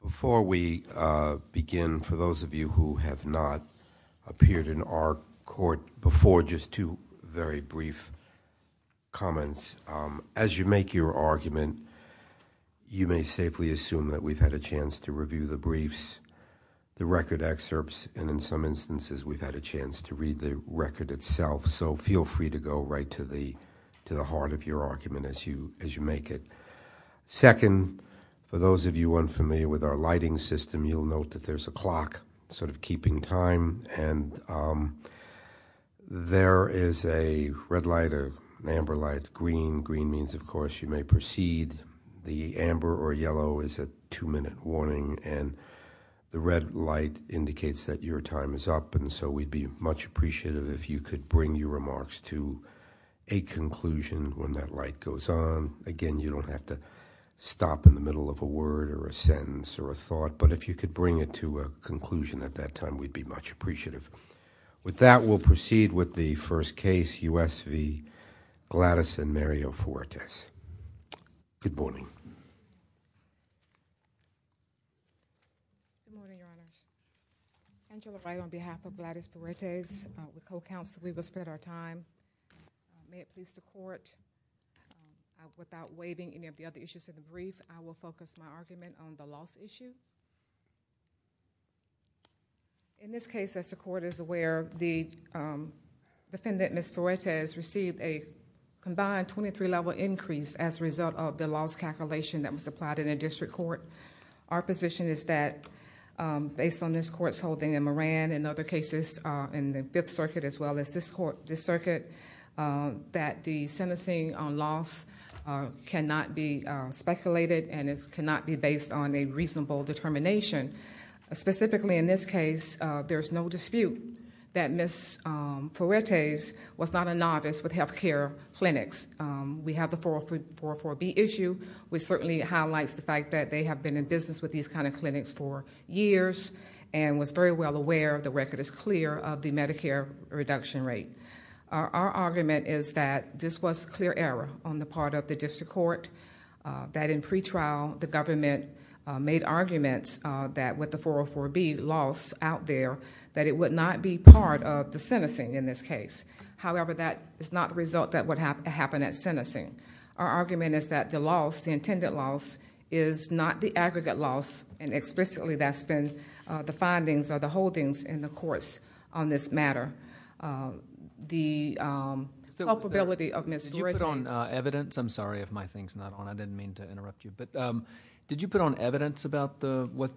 Before we begin, for those of you who have not appeared in our court before, just two very brief comments. As you make your argument, you may safely assume that we've had a chance to review the briefs, the record excerpts, and in some instances we've had a chance to review the record itself. So feel free to go right to the heart of your argument as you make it. Second, for those of you unfamiliar with our lighting system, you'll note that there's a clock sort of keeping time, and there is a red light, an amber light, green. Green means, of course, you may proceed. The amber or yellow is a two-minute warning, and the red light indicates that your time is up, and so we'd be much appreciative if you could bring your remarks to a conclusion when that light goes on. Again, you don't have to stop in the middle of a word or a sentence or a thought, but if you could bring it to a conclusion at that time, we'd be much appreciative. With that, we'll proceed with the first case, U.S. v. Gladys and Mario Fuertes. Good morning. Good morning, Your Honor. Angela Wright on behalf of Gladys Fuertes, the co-counsel, we will spend our time. May it please the Court, without waiving any of the other issues of the brief, I will focus my argument on the loss issue. In this case, as the Court is aware, the defendant, Ms. Fuertes, received a combined 23-level increase as a result of the loss calculation that was applied in the District Court. Our position is that, based on this Court's holding in Moran and other cases in the Fifth Circuit as well as this Circuit, that the sentencing loss cannot be speculated and it cannot be based on a reasonable determination. Specifically, in this case, there's no dispute that Ms. Fuertes was not a novice with health care clinics. We have the 404B issue, which certainly highlights the fact that they have been in business with these kind of clinics for years and was very well aware, the record is clear, of the Medicare reduction rate. Our argument is that this was a clear error on the part of the District Court, that in pretrial, the government made arguments that with the 404B loss out there, that it would not be part of the sentencing in this case. However, that is not the result that would happen at sentencing. Our argument is that the loss, the intended loss, is not the aggregate loss. Explicitly, that's been the findings or the holdings in the courts on this matter. The culpability of Ms. Fuertes... Did you put on evidence? I'm sorry if my thing's not on. I didn't mean to interrupt you. Did you put on evidence about what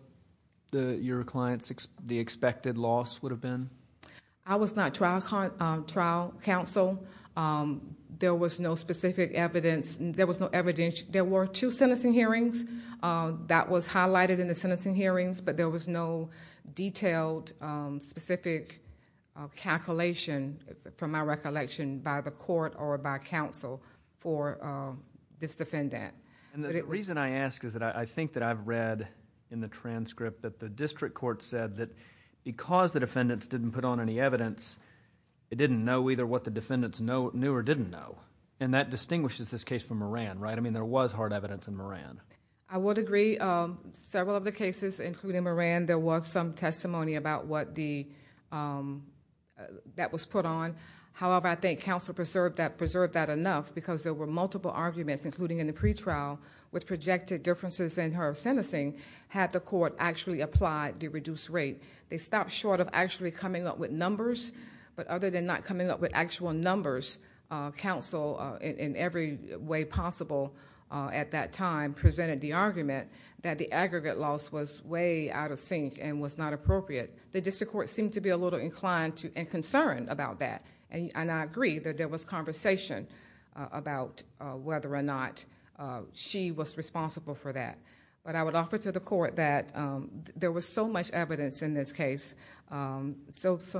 your client's expected loss would have been? I was not trial counsel. There was no specific evidence. There were two sentencing hearings. That was highlighted in the sentencing hearings, but there was no detailed, specific calculation from my recollection by the court or by counsel for this defendant. The reason I ask is that I think that I've read in the transcript that the District Court said that because the defendants didn't put on any evidence, they didn't know either what the defendants knew or didn't know. That distinguishes this case from Moran. There was hard evidence in Moran. I would agree. Several of the cases, including Moran, there was some testimony about what the... that was put on. However, I think counsel preserved that enough because there were multiple arguments, including in the pretrial, with projected differences in her sentencing, had the court actually applied the reduced rate. They stopped short of actually coming up with numbers, but other than not coming up with actual numbers, counsel, in every way possible at that time, presented the argument that the aggregate loss was way out of sync and was not appropriate. The District Court seemed to be a little inclined and concerned about that. I agree that there was conversation about whether or not she was responsible for that. I would offer to the court that there was so much evidence in this case, so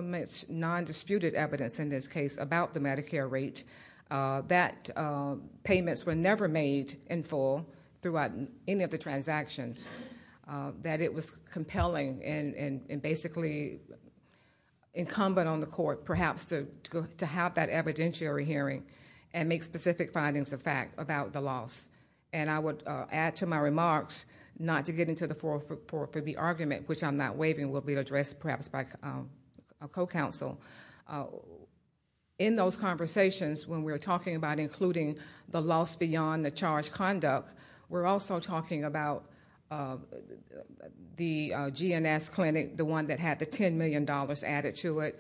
much nondisputed evidence in this case about the Medicare rate, that payments were never made in full throughout any of the transactions, that it was compelling and basically incumbent on the court, perhaps, to have that evidentiary hearing and make specific findings of fact about the loss. I would add to my remarks not to get into the 404B argument, which I'm not waiving will be addressed, perhaps, by a co-counsel. In those conversations, when we're talking about including the loss beyond the charge conduct, we're also talking about the GNS clinic, the one that had the $10 million added to it.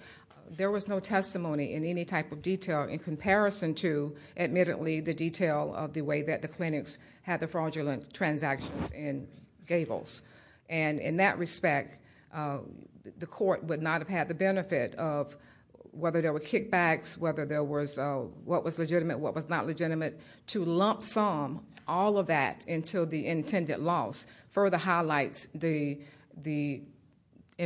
There was no testimony in any type of detail in comparison to, admittedly, the detail of the way that the clinics had the fraudulent transactions in Gables. In that respect, the court would not have had the benefit of, whether there were kickbacks, whether there was what was legitimate, what was not legitimate, to lump sum all of that into the intended loss. Further highlights, in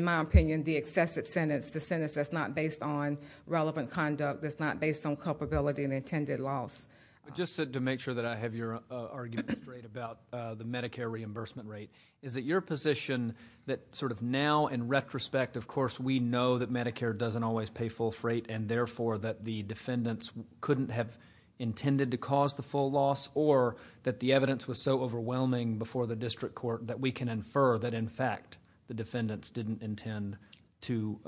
my opinion, the excessive sentence, the sentence that's not based on relevant conduct, that's not based on culpability and intended loss. Just to make sure that I have your argument straight about the Medicare reimbursement rate, is it your position that now, in retrospect, of course, we know that Medicare doesn't always pay full freight and, therefore, that the defendants couldn't have intended to cause the full loss, or that the evidence was so overwhelming before the district court that we can infer that, in fact, the defendants didn't intend to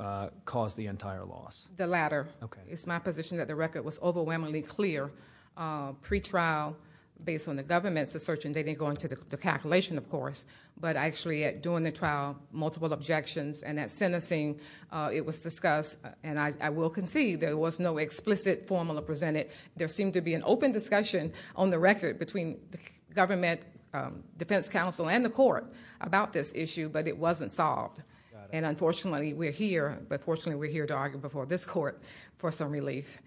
cause the entire loss? The latter. Okay. It's my position that the record was overwhelmingly clear. Pre-trial, based on the government's assertion, they didn't go into the calculation, of course, but actually, during the trial, multiple objections and that sentencing, it was discussed, and I will concede, there was no explicit formula presented. There seemed to be an open discussion on the record between the government defense counsel and the court about this issue, but it wasn't solved. Unfortunately, we're here, but fortunately, we're here to argue before this court for some relief.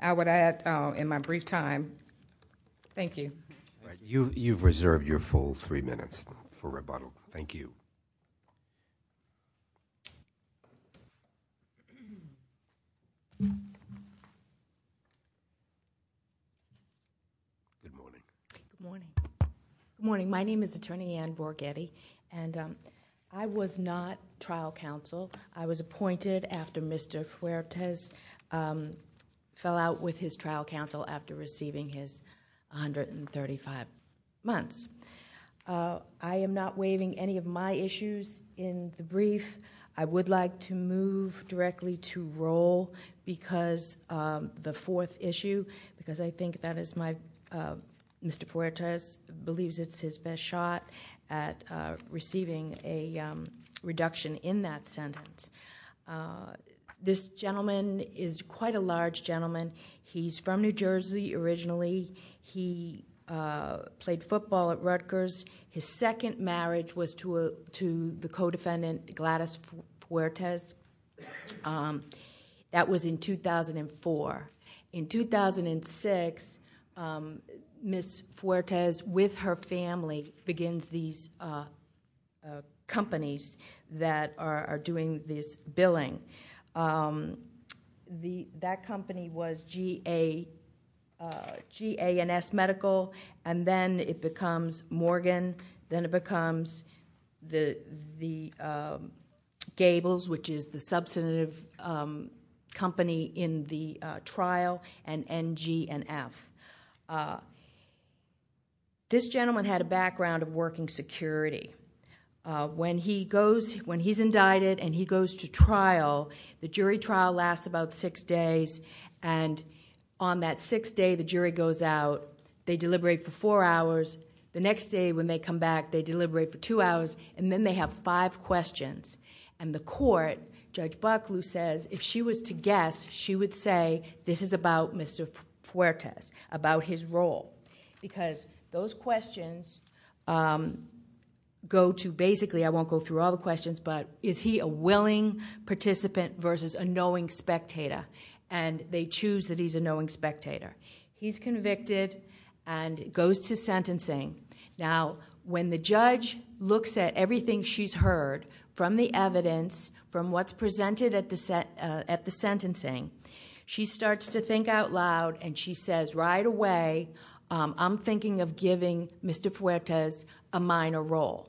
I would add, in my brief time, thank you. You've reserved your full three minutes for rebuttal. Thank you. Good morning. Good morning. My name is Attorney Ann Borgetti, and I was not trial counsel. I was trial counsel for 35 months. I am not waiving any of my issues in the brief. I would like to move directly to roll, because the fourth issue, because I think that is my... Mr. Fuertes believes it's his best shot at receiving a reduction in that sentence. This gentleman is quite a large gentleman. He's from New Jersey originally. He played football at Rutgers. His second marriage was to the co-defendant, Gladys Fuertes. That was in 2004. In 2006, Ms. Fuertes, with her family, begins these companies that are doing this billing. That company was GANS Medical, and then it becomes Morgan, then it becomes the Gables, which is the substantive company in the trial, and NG&F. This gentleman had a background of working security. When he's indicted and he goes to trial, the jury trial lasts about six days. On that sixth day, the jury goes out. They deliberate for four hours. The next day, when they come back, they deliberate for two hours, and then they have five questions. The court, Judge Buckley says, if she was to guess, she would say, this is about Mr. Fuertes, about his role, because those questions go to... basically, I won't go through all the questions, but is he a willing participant versus a knowing spectator? They choose that he's a knowing spectator. He's convicted and goes to sentencing. When the judge looks at everything she's heard from the evidence, from what's presented at the sentencing, she starts to think out loud, and she says, right away, I'm thinking of giving Mr. Fuertes a minor role.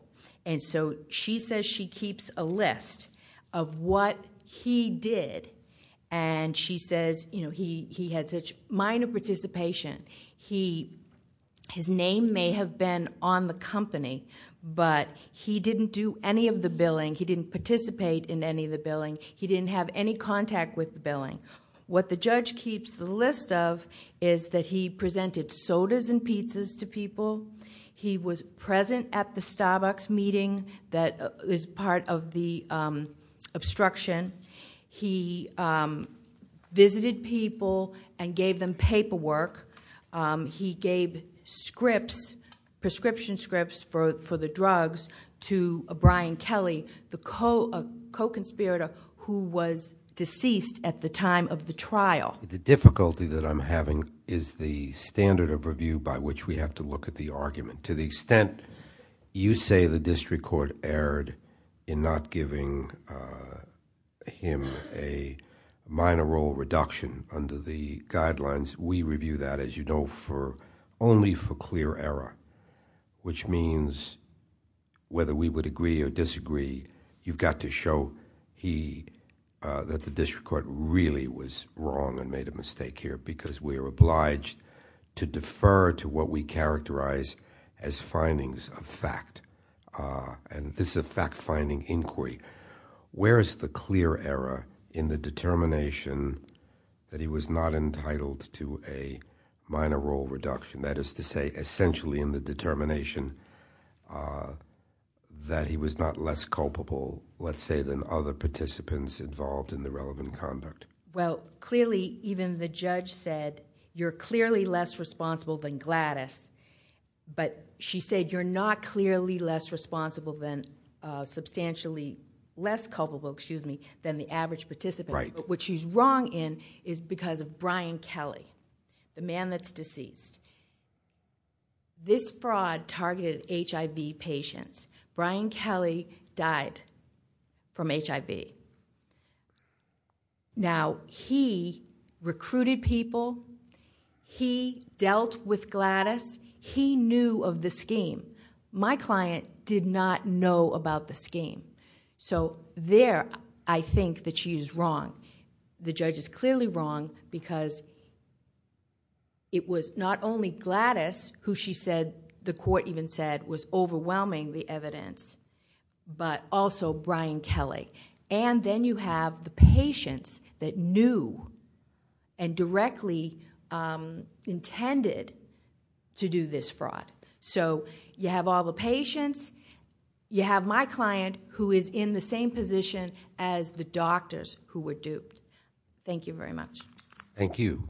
She says she keeps a list of what he did, and she says he had such minor participation. His name may have been on the company, but he didn't do any of the billing. He didn't participate in any of the billing. He didn't have any contact with the billing. What the judge keeps the list of is that he presented sodas and pizzas to people. He was present at the Starbucks meeting that is part of the obstruction. He visited people and gave them paperwork. He gave prescription scripts for the drugs to Brian Kelly, the co-conspirator who was deceased at the time of the trial. The difficulty that I'm having is the standard of review by which we have to look at the district court erred in not giving him a minor role reduction under the guidelines. We review that, as you know, only for clear error, which means whether we would agree or disagree, you've got to show that the district court really was wrong and made a mistake here because we are obliged to defer to what we characterize as findings of fact, and this is a fact-finding inquiry. Where is the clear error in the determination that he was not entitled to a minor role reduction? That is to say, essentially in the determination that he was not less culpable, let's say, than other participants involved in the relevant conduct. Clearly, even the judge said, you're clearly less responsible than Gladys, but she said you're not clearly less responsible than, substantially less culpable, excuse me, than the average participant. What she's wrong in is because of Brian Kelly, the man that's deceased. This fraud targeted HIV patients. Brian Kelly died from HIV. Now, he recruited people, he dealt with Gladys, he knew of the scheme. My client did not know about the scheme, so there, I think that she is wrong. The judge is clearly wrong because it was not only Gladys who the court even said was overwhelming the evidence, but also Brian Kelly. Then you have the patients that knew and directly intended to do this fraud. You have all the patients, you have my client who is in the same position as the doctors who were duped. Thank you very much. Thank you.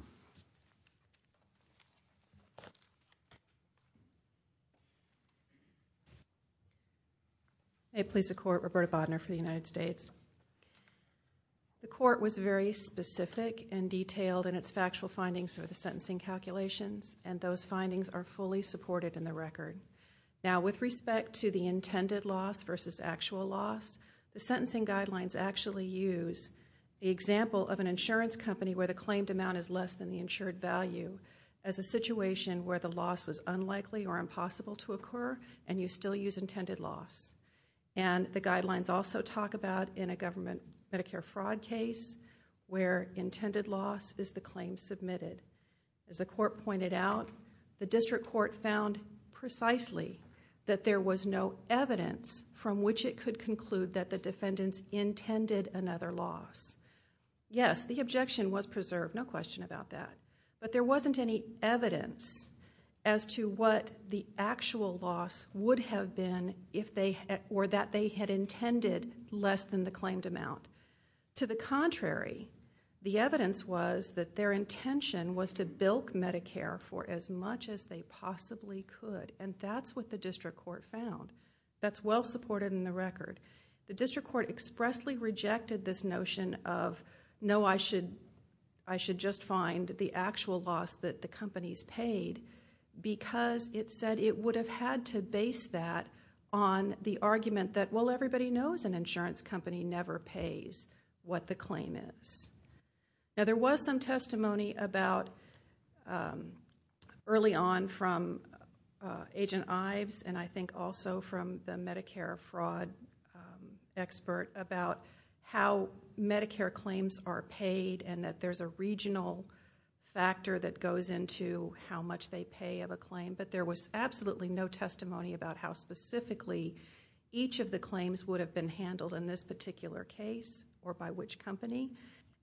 May it please the court, Roberta Bodner for the United States. The court was very specific and detailed in its factual findings for the sentencing calculations, and those findings are fully supported in the record. Now, with respect to the intended loss versus actual loss, the sentencing guidelines actually use the example of an insurance company where the claimed amount is less than the insured value as a situation where the loss was unlikely or impossible to occur, and you still use intended loss. The guidelines also talk about in a government Medicare fraud case where intended loss is the claim submitted. As the district court found precisely that there was no evidence from which it could conclude that the defendants intended another loss. Yes, the objection was preserved, no question about that, but there wasn't any evidence as to what the actual loss would have been if they or that they had intended less than the claimed amount. To the contrary, the evidence was that their intention was to bilk Medicare for as much as they possibly could, and that's what the district court found. That's well supported in the record. The district court expressly rejected this notion of, no, I should just find the actual loss that the companies paid because it said it would have had to base that on the argument that, well, everybody knows an insurance company never pays what the claim is. There was some testimony about early on from Agent Ives and I think also from the Medicare fraud expert about how Medicare claims are paid and that there's a regional factor that goes into how much they pay of a claim, but there was absolutely no testimony about how specifically each of the claims would have been handled in this particular case or by which company,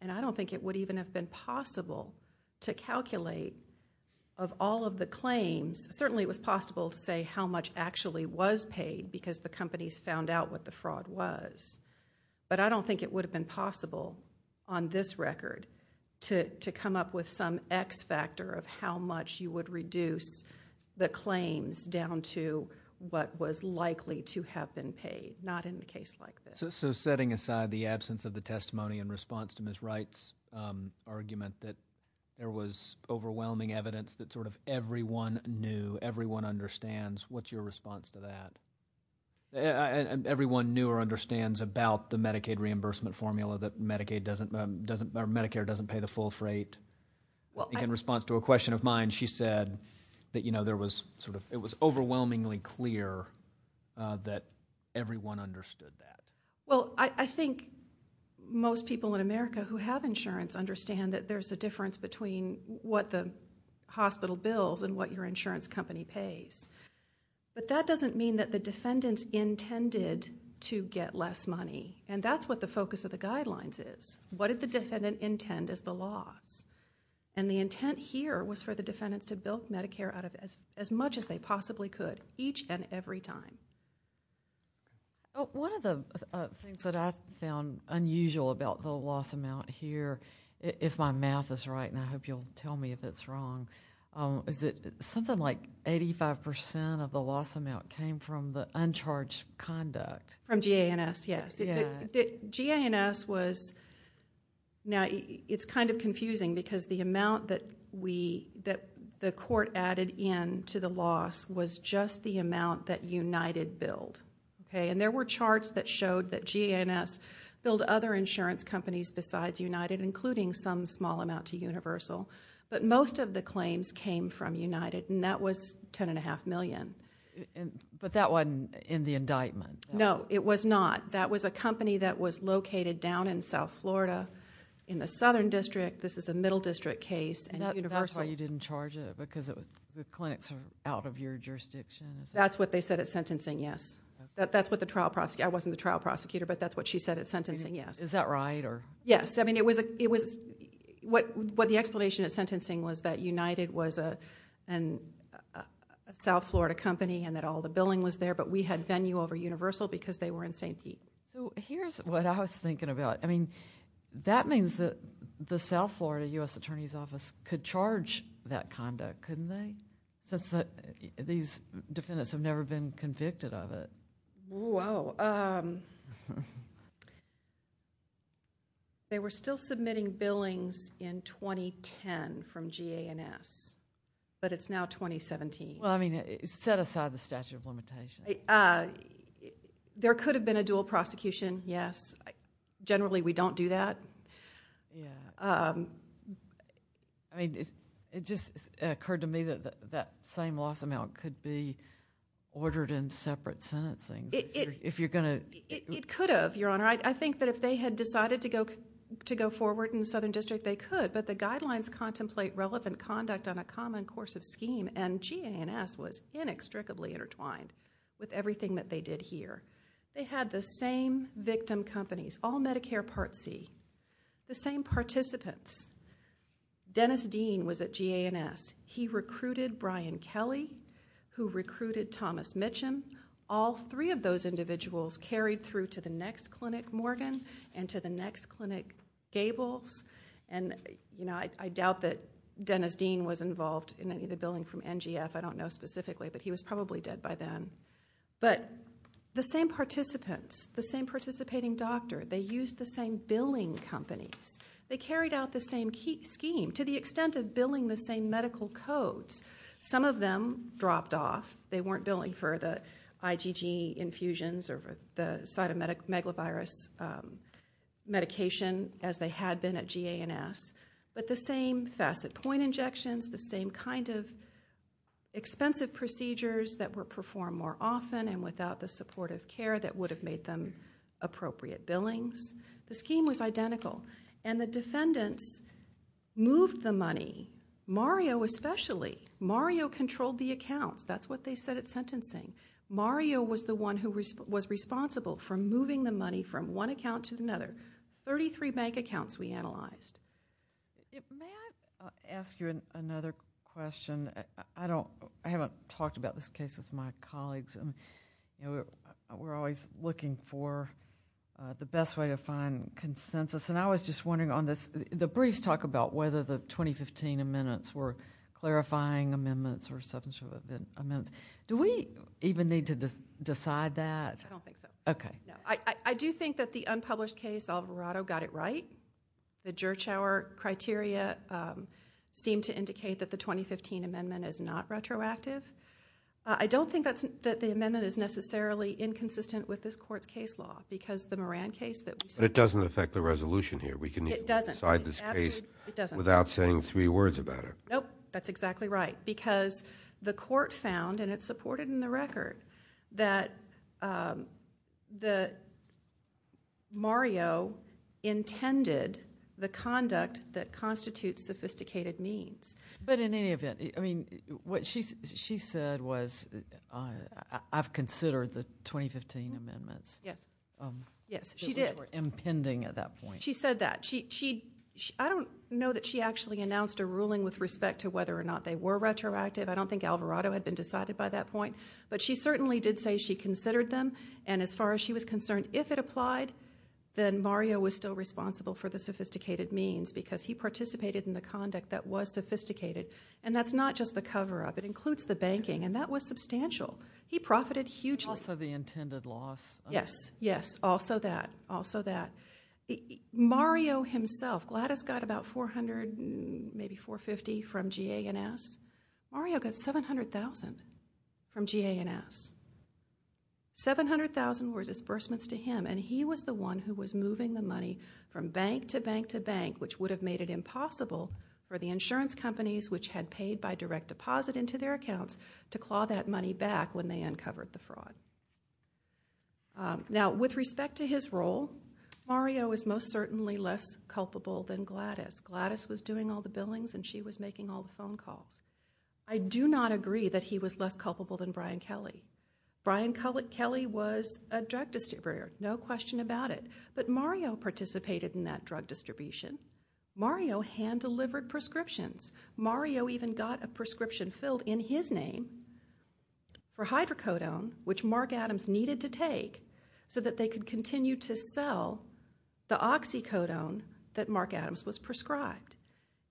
and I don't think it would even have been possible to calculate of all of the claims. Certainly it was possible to say how much actually was paid because the companies found out what the fraud was, but I don't think it would have been possible on this record to come up with some X factor of how much you would reduce the claims down to what was likely to have been paid, not in a case like this. Setting aside the absence of the testimony in response to Ms. Wright's argument that there was overwhelming evidence that sort of everyone knew, everyone understands, what's your response to that? Everyone knew or understands about the Medicaid reimbursement formula that Medicare doesn't pay the full freight. In response to a question of mine, she said that it was overwhelmingly clear that everyone understood that. Ms. Wright. Well, I think most people in America who have insurance understand that there's a difference between what the hospital bills and what your insurance company pays, but that doesn't mean that the defendants intended to get less money, and that's what the focus of the guidelines is. What did the defendant intend is the loss, and the intent here was for the defendants to bill Medicare as much as they possibly could each and every time. One of the things that I found unusual about the loss amount here, if my math is right, and I hope you'll tell me if it's wrong, is that something like 85% of the loss amount came from the uncharged conduct. From GA&S, yes. It's kind of confusing because the amount that the court added in to the loss was just the amount that United billed. There were charts that showed that GA&S billed other insurance companies besides United, including some small amount to Universal, but most of the claims came from United, and that was $10.5 million. But that wasn't in the indictment? No, it was not. That was a company that was located down in South Florida in the Southern District. This is a Middle District case, and Universal... That's why you didn't charge it, because the clinics are out of your jurisdiction? That's what they said at sentencing, yes. That's what the trial prosecutor... I wasn't the trial prosecutor, but that's what she said at sentencing, yes. Is that right? Yes. What the explanation at sentencing was that United was a South Florida company and that all the billing was there, but we had venue over Universal because they were in St. Pete. Here's what I was thinking about. That means that the South Florida U.S. Attorney's Office could charge that conduct, couldn't they, since these defendants have never been convicted of it? They were still submitting billings in 2010 from GA&S, but it's now 2017. Well, I mean, set aside the statute of limitations. There could have been a dual prosecution, yes. Generally, we don't do that. It just occurred to me that that same loss amount could be ordered in separate sentencing. It could have, Your Honor. I think that if they had decided to go forward in the Southern District, they could, but the guidelines contemplate relevant conduct on a GA&S was inextricably intertwined with everything that they did here. They had the same victim companies, all Medicare Part C, the same participants. Dennis Dean was at GA&S. He recruited Brian Kelly, who recruited Thomas Mitchum. All three of those individuals carried through to the next clinic, Morgan, and to the next clinic, Gables. I doubt that Dennis Dean was involved in any of the billing from NGF. I don't know specifically, but he was probably dead by then. But the same participants, the same participating doctor, they used the same billing companies. They carried out the same scheme to the extent of billing the same medical codes. Some of them dropped off. They weren't billing for the IgG infusions or the cytomegalovirus medication as they had been at GA&S, but the same facet point injections, the same kind of expensive procedures that were performed more often and without the supportive care that would have made them appropriate billings. The scheme was identical, and the defendants moved the money. Mario especially. Mario controlled the accounts. That's what they said at sentencing. Mario was the one who was responsible for moving the money from one account to another. There were 33 bank accounts we analyzed. May I ask you another question? I haven't talked about this case with my colleagues. We're always looking for the best way to find consensus. I was just wondering on this. The briefs talk about whether the 2015 amendments were clarifying amendments or some sort of amendments. Do we even need to decide that? I don't think so. Okay. I do think that the unpublished case, Alvarado got it right. The Gertschauer criteria seemed to indicate that the 2015 amendment is not retroactive. I don't think that the amendment is necessarily inconsistent with this court's case law because the Moran case that we saw... But it doesn't affect the resolution here. It doesn't. We can decide this case without saying three words about it. Nope. That's exactly right because the court found, and it's supported in the record, that Mario intended the conduct that constitutes sophisticated needs. But in any event, what she said was, I've considered the 2015 amendments. Yes. Yes, she did. Which were impending at that point. She said that. I don't know that she actually announced a ruling with respect to whether or not they were retroactive. I don't think Alvarado had been decided by that point. But she certainly did say she considered them. And as far as she was concerned, if it applied, then Mario was still responsible for the sophisticated means because he participated in the conduct that was sophisticated. And that's not just the cover-up. It includes the banking. And that was substantial. He profited hugely. Also the intended loss. Yes. Yes. Also that. Also that. Mario himself, Gladys got about 400, maybe 450 from GA and S. Mario got 700,000 from GA and S. 700,000 were disbursements to him. And he was the one who was moving the money from bank to bank to bank, which would have made it impossible for the insurance companies, which had paid by direct deposit into their accounts, to claw that money back when they uncovered the fraud. Now, with respect to his role, Mario is most certainly less culpable than Gladys. Gladys was doing all the billings and she was making all the phone calls. I do not agree that he was less culpable than Brian Kelly. Brian Kelly was a drug distributor, no question about it. But Mario participated in that drug distribution. Mario hand-delivered prescriptions. Mario even got a prescription filled in his name for hydrocodone, which Mark Adams needed to take so that they could continue to sell the oxycodone that he prescribed.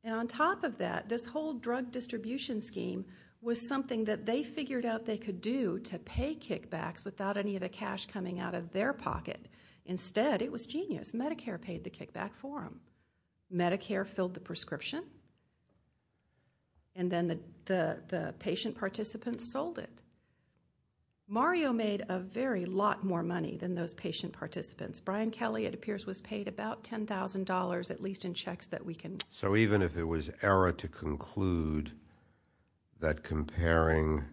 And on top of that, this whole drug distribution scheme was something that they figured out they could do to pay kickbacks without any of the cash coming out of their pocket. Instead, it was genius. Medicare paid the kickback for him. Medicare filled the prescription. And then the patient participants sold it. Mario made a very lot more money than those patient participants. Brian Kelly, it appears, was paid about $10,000, at least in checks that we can... So even if there was error to conclude that comparing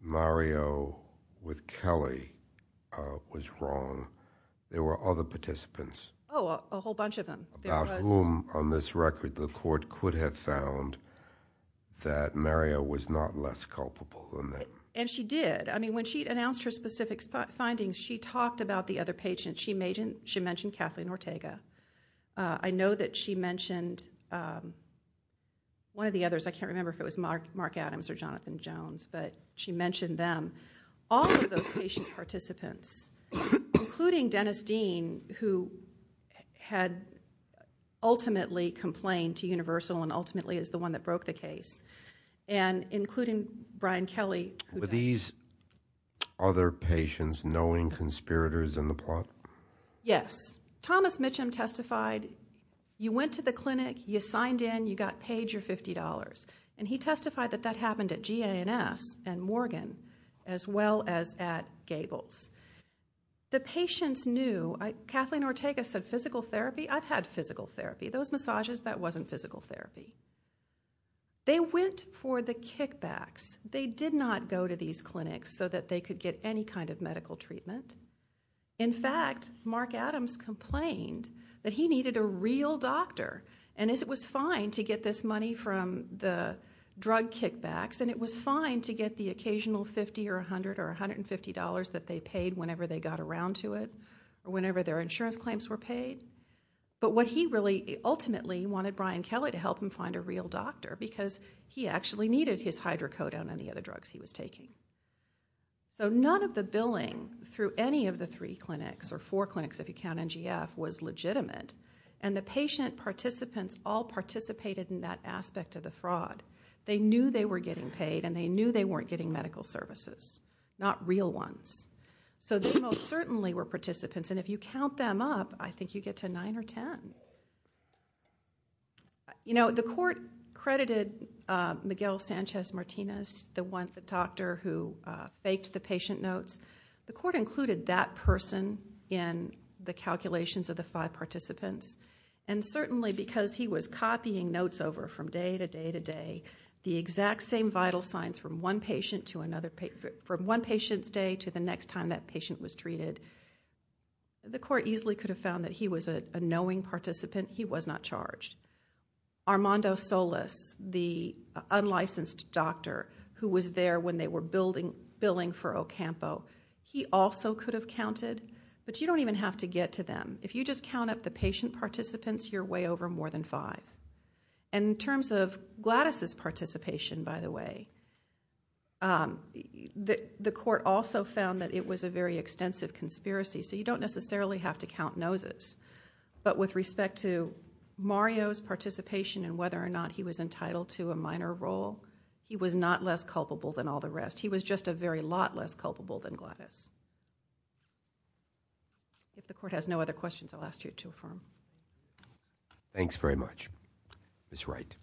Mario with Kelly was wrong, there were other participants. Oh, a whole bunch of them. About whom, on this record, the court could have found that Mario was not less culpable than them. And she did. I mean, when she announced her specific findings, she talked about the other patients. She mentioned Kathleen Ortega. I know that she mentioned one of the others. I can't remember if it was Mark Adams or Jonathan Jones, but she mentioned them. All of those patient participants, including Dennis Dean, who had ultimately complained to Universal and ultimately is the one that broke the case, and including Brian Kelly... Were these other patients knowing conspirators in the plot? Yes. Thomas Mitchum testified, you went to the clinic, you signed in, you got paid your $50. And he testified that that happened at GANS and Morgan, as well as at Gables. The patients knew. Kathleen Ortega said physical therapy. I've had physical therapy. Those massages, that wasn't physical therapy. They went for the kickbacks. They did not go to these clinics so that they could get any kind of medical treatment. In fact, Mark Adams complained that he needed a real doctor. And it was fine to get this money from the drug kickbacks, and it was fine to get the occasional $50 or $100 or $150 that they paid whenever they got around to it, whenever their insurance claims were paid. But what he really ultimately wanted Brian Kelly to help him find a real doctor. He did not want to go down any of the drugs he was taking. So none of the billing through any of the three clinics, or four clinics if you count NGF, was legitimate. And the patient participants all participated in that aspect of the fraud. They knew they were getting paid, and they knew they weren't getting medical services. Not real ones. So they most certainly were participants. And if you count them up, I think you get to nine or ten. You know, the court credited Miguel Sanchez Martinez, the doctor who faked the patient notes. The court included that person in the calculations of the five participants. And certainly because he was copying notes over from day to day to day, the exact same vital signs from one patient's day to the next time that patient was treated, the court easily could have found that he was a knowing participant. He was not charged. Armando Solis, the unlicensed doctor who was there when they were billing for Ocampo, he also could have counted. But you don't even have to get to them. If you just count up the patient participants, you're way over more than five. And in terms of Gladys's participation, by the way, the court also found that it was a very extensive conspiracy. So you don't necessarily have to count noses. But with respect to Mario's participation and whether or not he was entitled to a minor role, he was not less culpable than all the rest. He was just a very lot less culpable than Gladys. If the court has no other questions, I'll ask you to affirm. Thanks very much. Ms. Wright.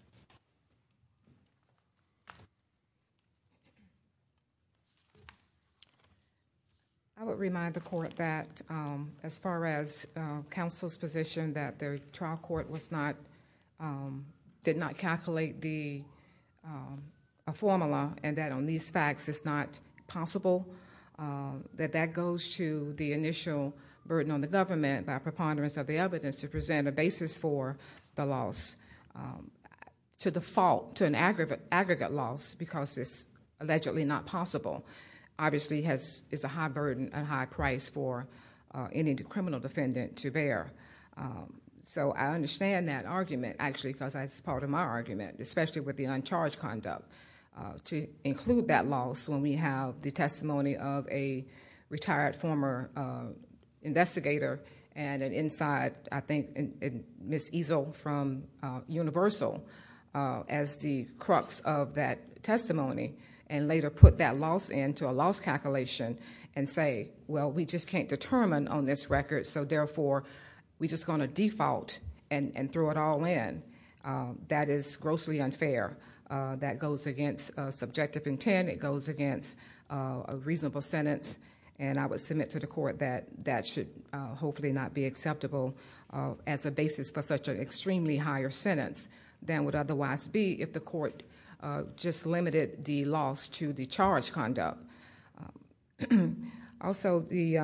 I would remind the court that as far as counsel's position that the trial court did not calculate a formula and that on these facts it's not possible, that that goes to the initial burden on the government by preponderance of the evidence to present a basis for the loss to the fault, to an aggregate loss because it's allegedly not possible. Obviously, it's a high burden, a high price for any criminal defendant to bear. So I understand that argument, actually, because that's part of my argument, especially with the uncharged conduct, to include that loss when we have the I think Ms. Ezel from Universal as the crux of that testimony and later put that loss into a loss calculation and say, well, we just can't determine on this record, so therefore we're just going to default and throw it all in. That is grossly unfair. That goes against subjective intent. It goes against a reasonable sentence. I would submit to the court that that should hopefully not be acceptable as a basis for such an extremely higher sentence than would otherwise be if the court just limited the loss to the charged conduct. Also, the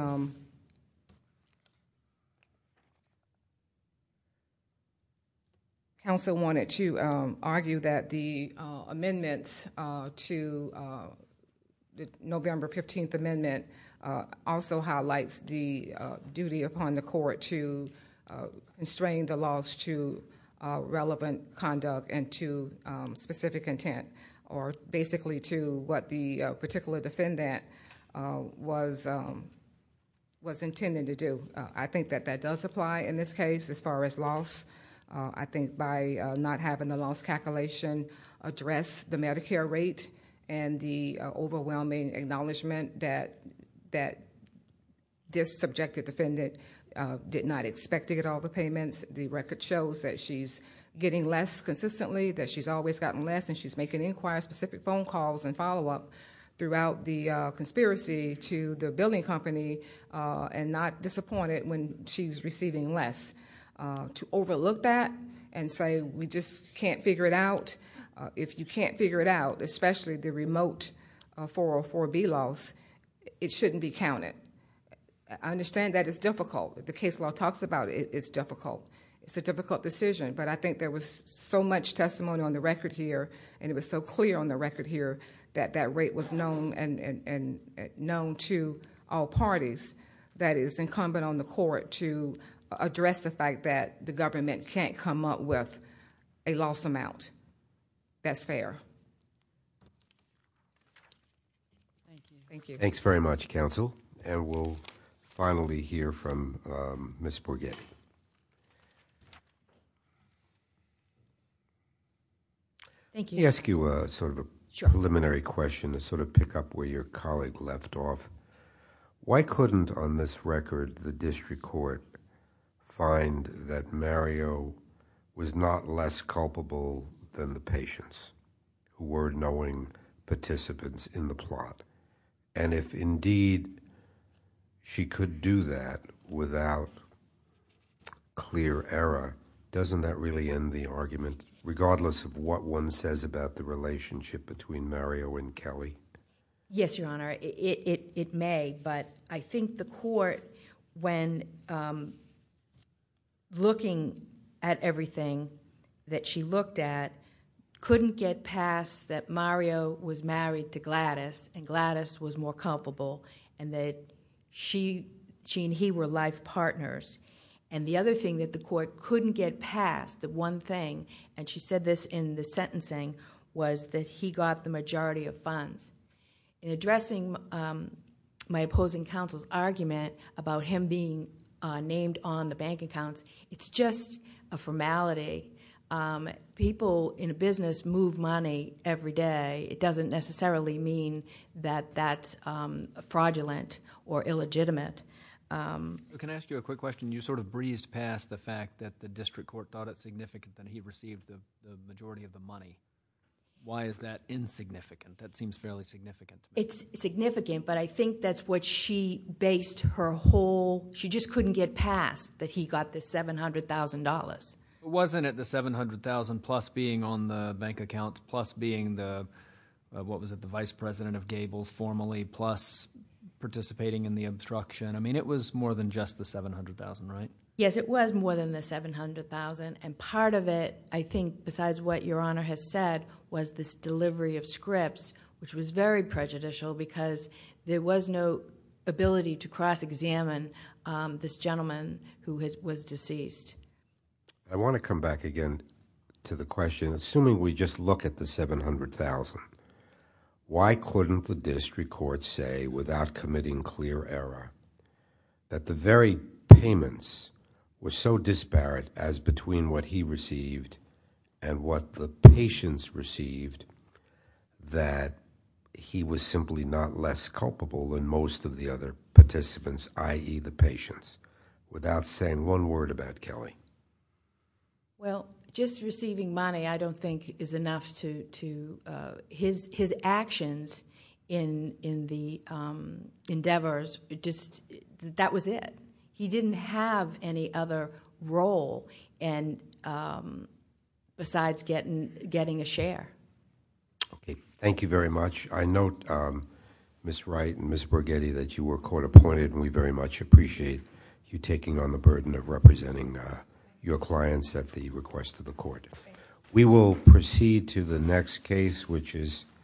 council wanted to argue that the amendments to the November 15th amendment also highlights the duty upon the court to constrain the loss to relevant conduct and to specific intent or basically to what the particular defendant was intending to do. I think that that does apply in this case as far as loss. I think by not having the loss calculation address the Medicare rate and the overwhelming acknowledgment that this subjective defendant did not expect to get all the payments, the record shows that she's getting less consistently, that she's always gotten less, and she's making inquired specific phone calls and follow-up throughout the conspiracy to the billing company and not disappointed when she's receiving less. To overlook that and say we just can't figure it out, if you can't figure it out, especially the remote 404B loss, it shouldn't be counted. I understand that it's difficult. The case law talks about it. It's difficult. It's a difficult decision, but I think there was so much testimony on the record here that that rate was known to all parties that it's incumbent on the court to address the fact that the government can't come up with a loss amount. That's fair. Thank you. Thanks very much, counsel. We'll finally hear from Ms. Borghetti. Thank you. Let me ask you a preliminary question to pick up where your colleague left off. Why couldn't on this record the district court find that Mario was not less culpable than the patients who were knowing participants in the plot? If indeed she could do that without clear error, doesn't that really end the relationship between Mario and Kelly? Yes, Your Honor. It may, but I think the court when looking at everything that she looked at, couldn't get past that Mario was married to Gladys, and Gladys was more culpable, and that she and he were life partners. The other thing that the court couldn't get past, the one thing, and she said this in the sentencing, was that he got the majority of funds. In addressing my opposing counsel's argument about him being named on the bank accounts, it's just a formality. People in a business move money every day. It doesn't necessarily mean that that's fraudulent or illegitimate. Can I ask you a quick question? You sort of breezed past the fact that the district court thought it was the majority of the money. Why is that insignificant? That seems fairly significant. It's significant, but I think that's what she based her whole... She just couldn't get past that he got the $700,000. Wasn't it the $700,000 plus being on the bank accounts, plus being the, what was it, the vice president of Gables formally, plus participating in the obstruction? I mean, it was more than just the $700,000, right? Yes, it was more than the $700,000. Part of it, I think, besides what Your Honor has said, was this delivery of scripts, which was very prejudicial because there was no ability to cross-examine this gentleman who was deceased. I want to come back again to the question. Assuming we just look at the $700,000, why couldn't the district court say without committing clear error that the very payments were so disparate as between what he received and what the patients received, that he was simply not less culpable than most of the other participants, i.e., the patients, without saying one word about Kelly? Well, just receiving money I don't think is enough to... His actions in the endeavors, that was it. He didn't have any other role besides getting a share. Okay. Thank you very much. I note, Ms. Wright and Ms. Borghetti, that you were court-appointed, and we very much appreciate you taking on the burden of representing your clients at the request of the court. Thank you. We will proceed to the next case, which is...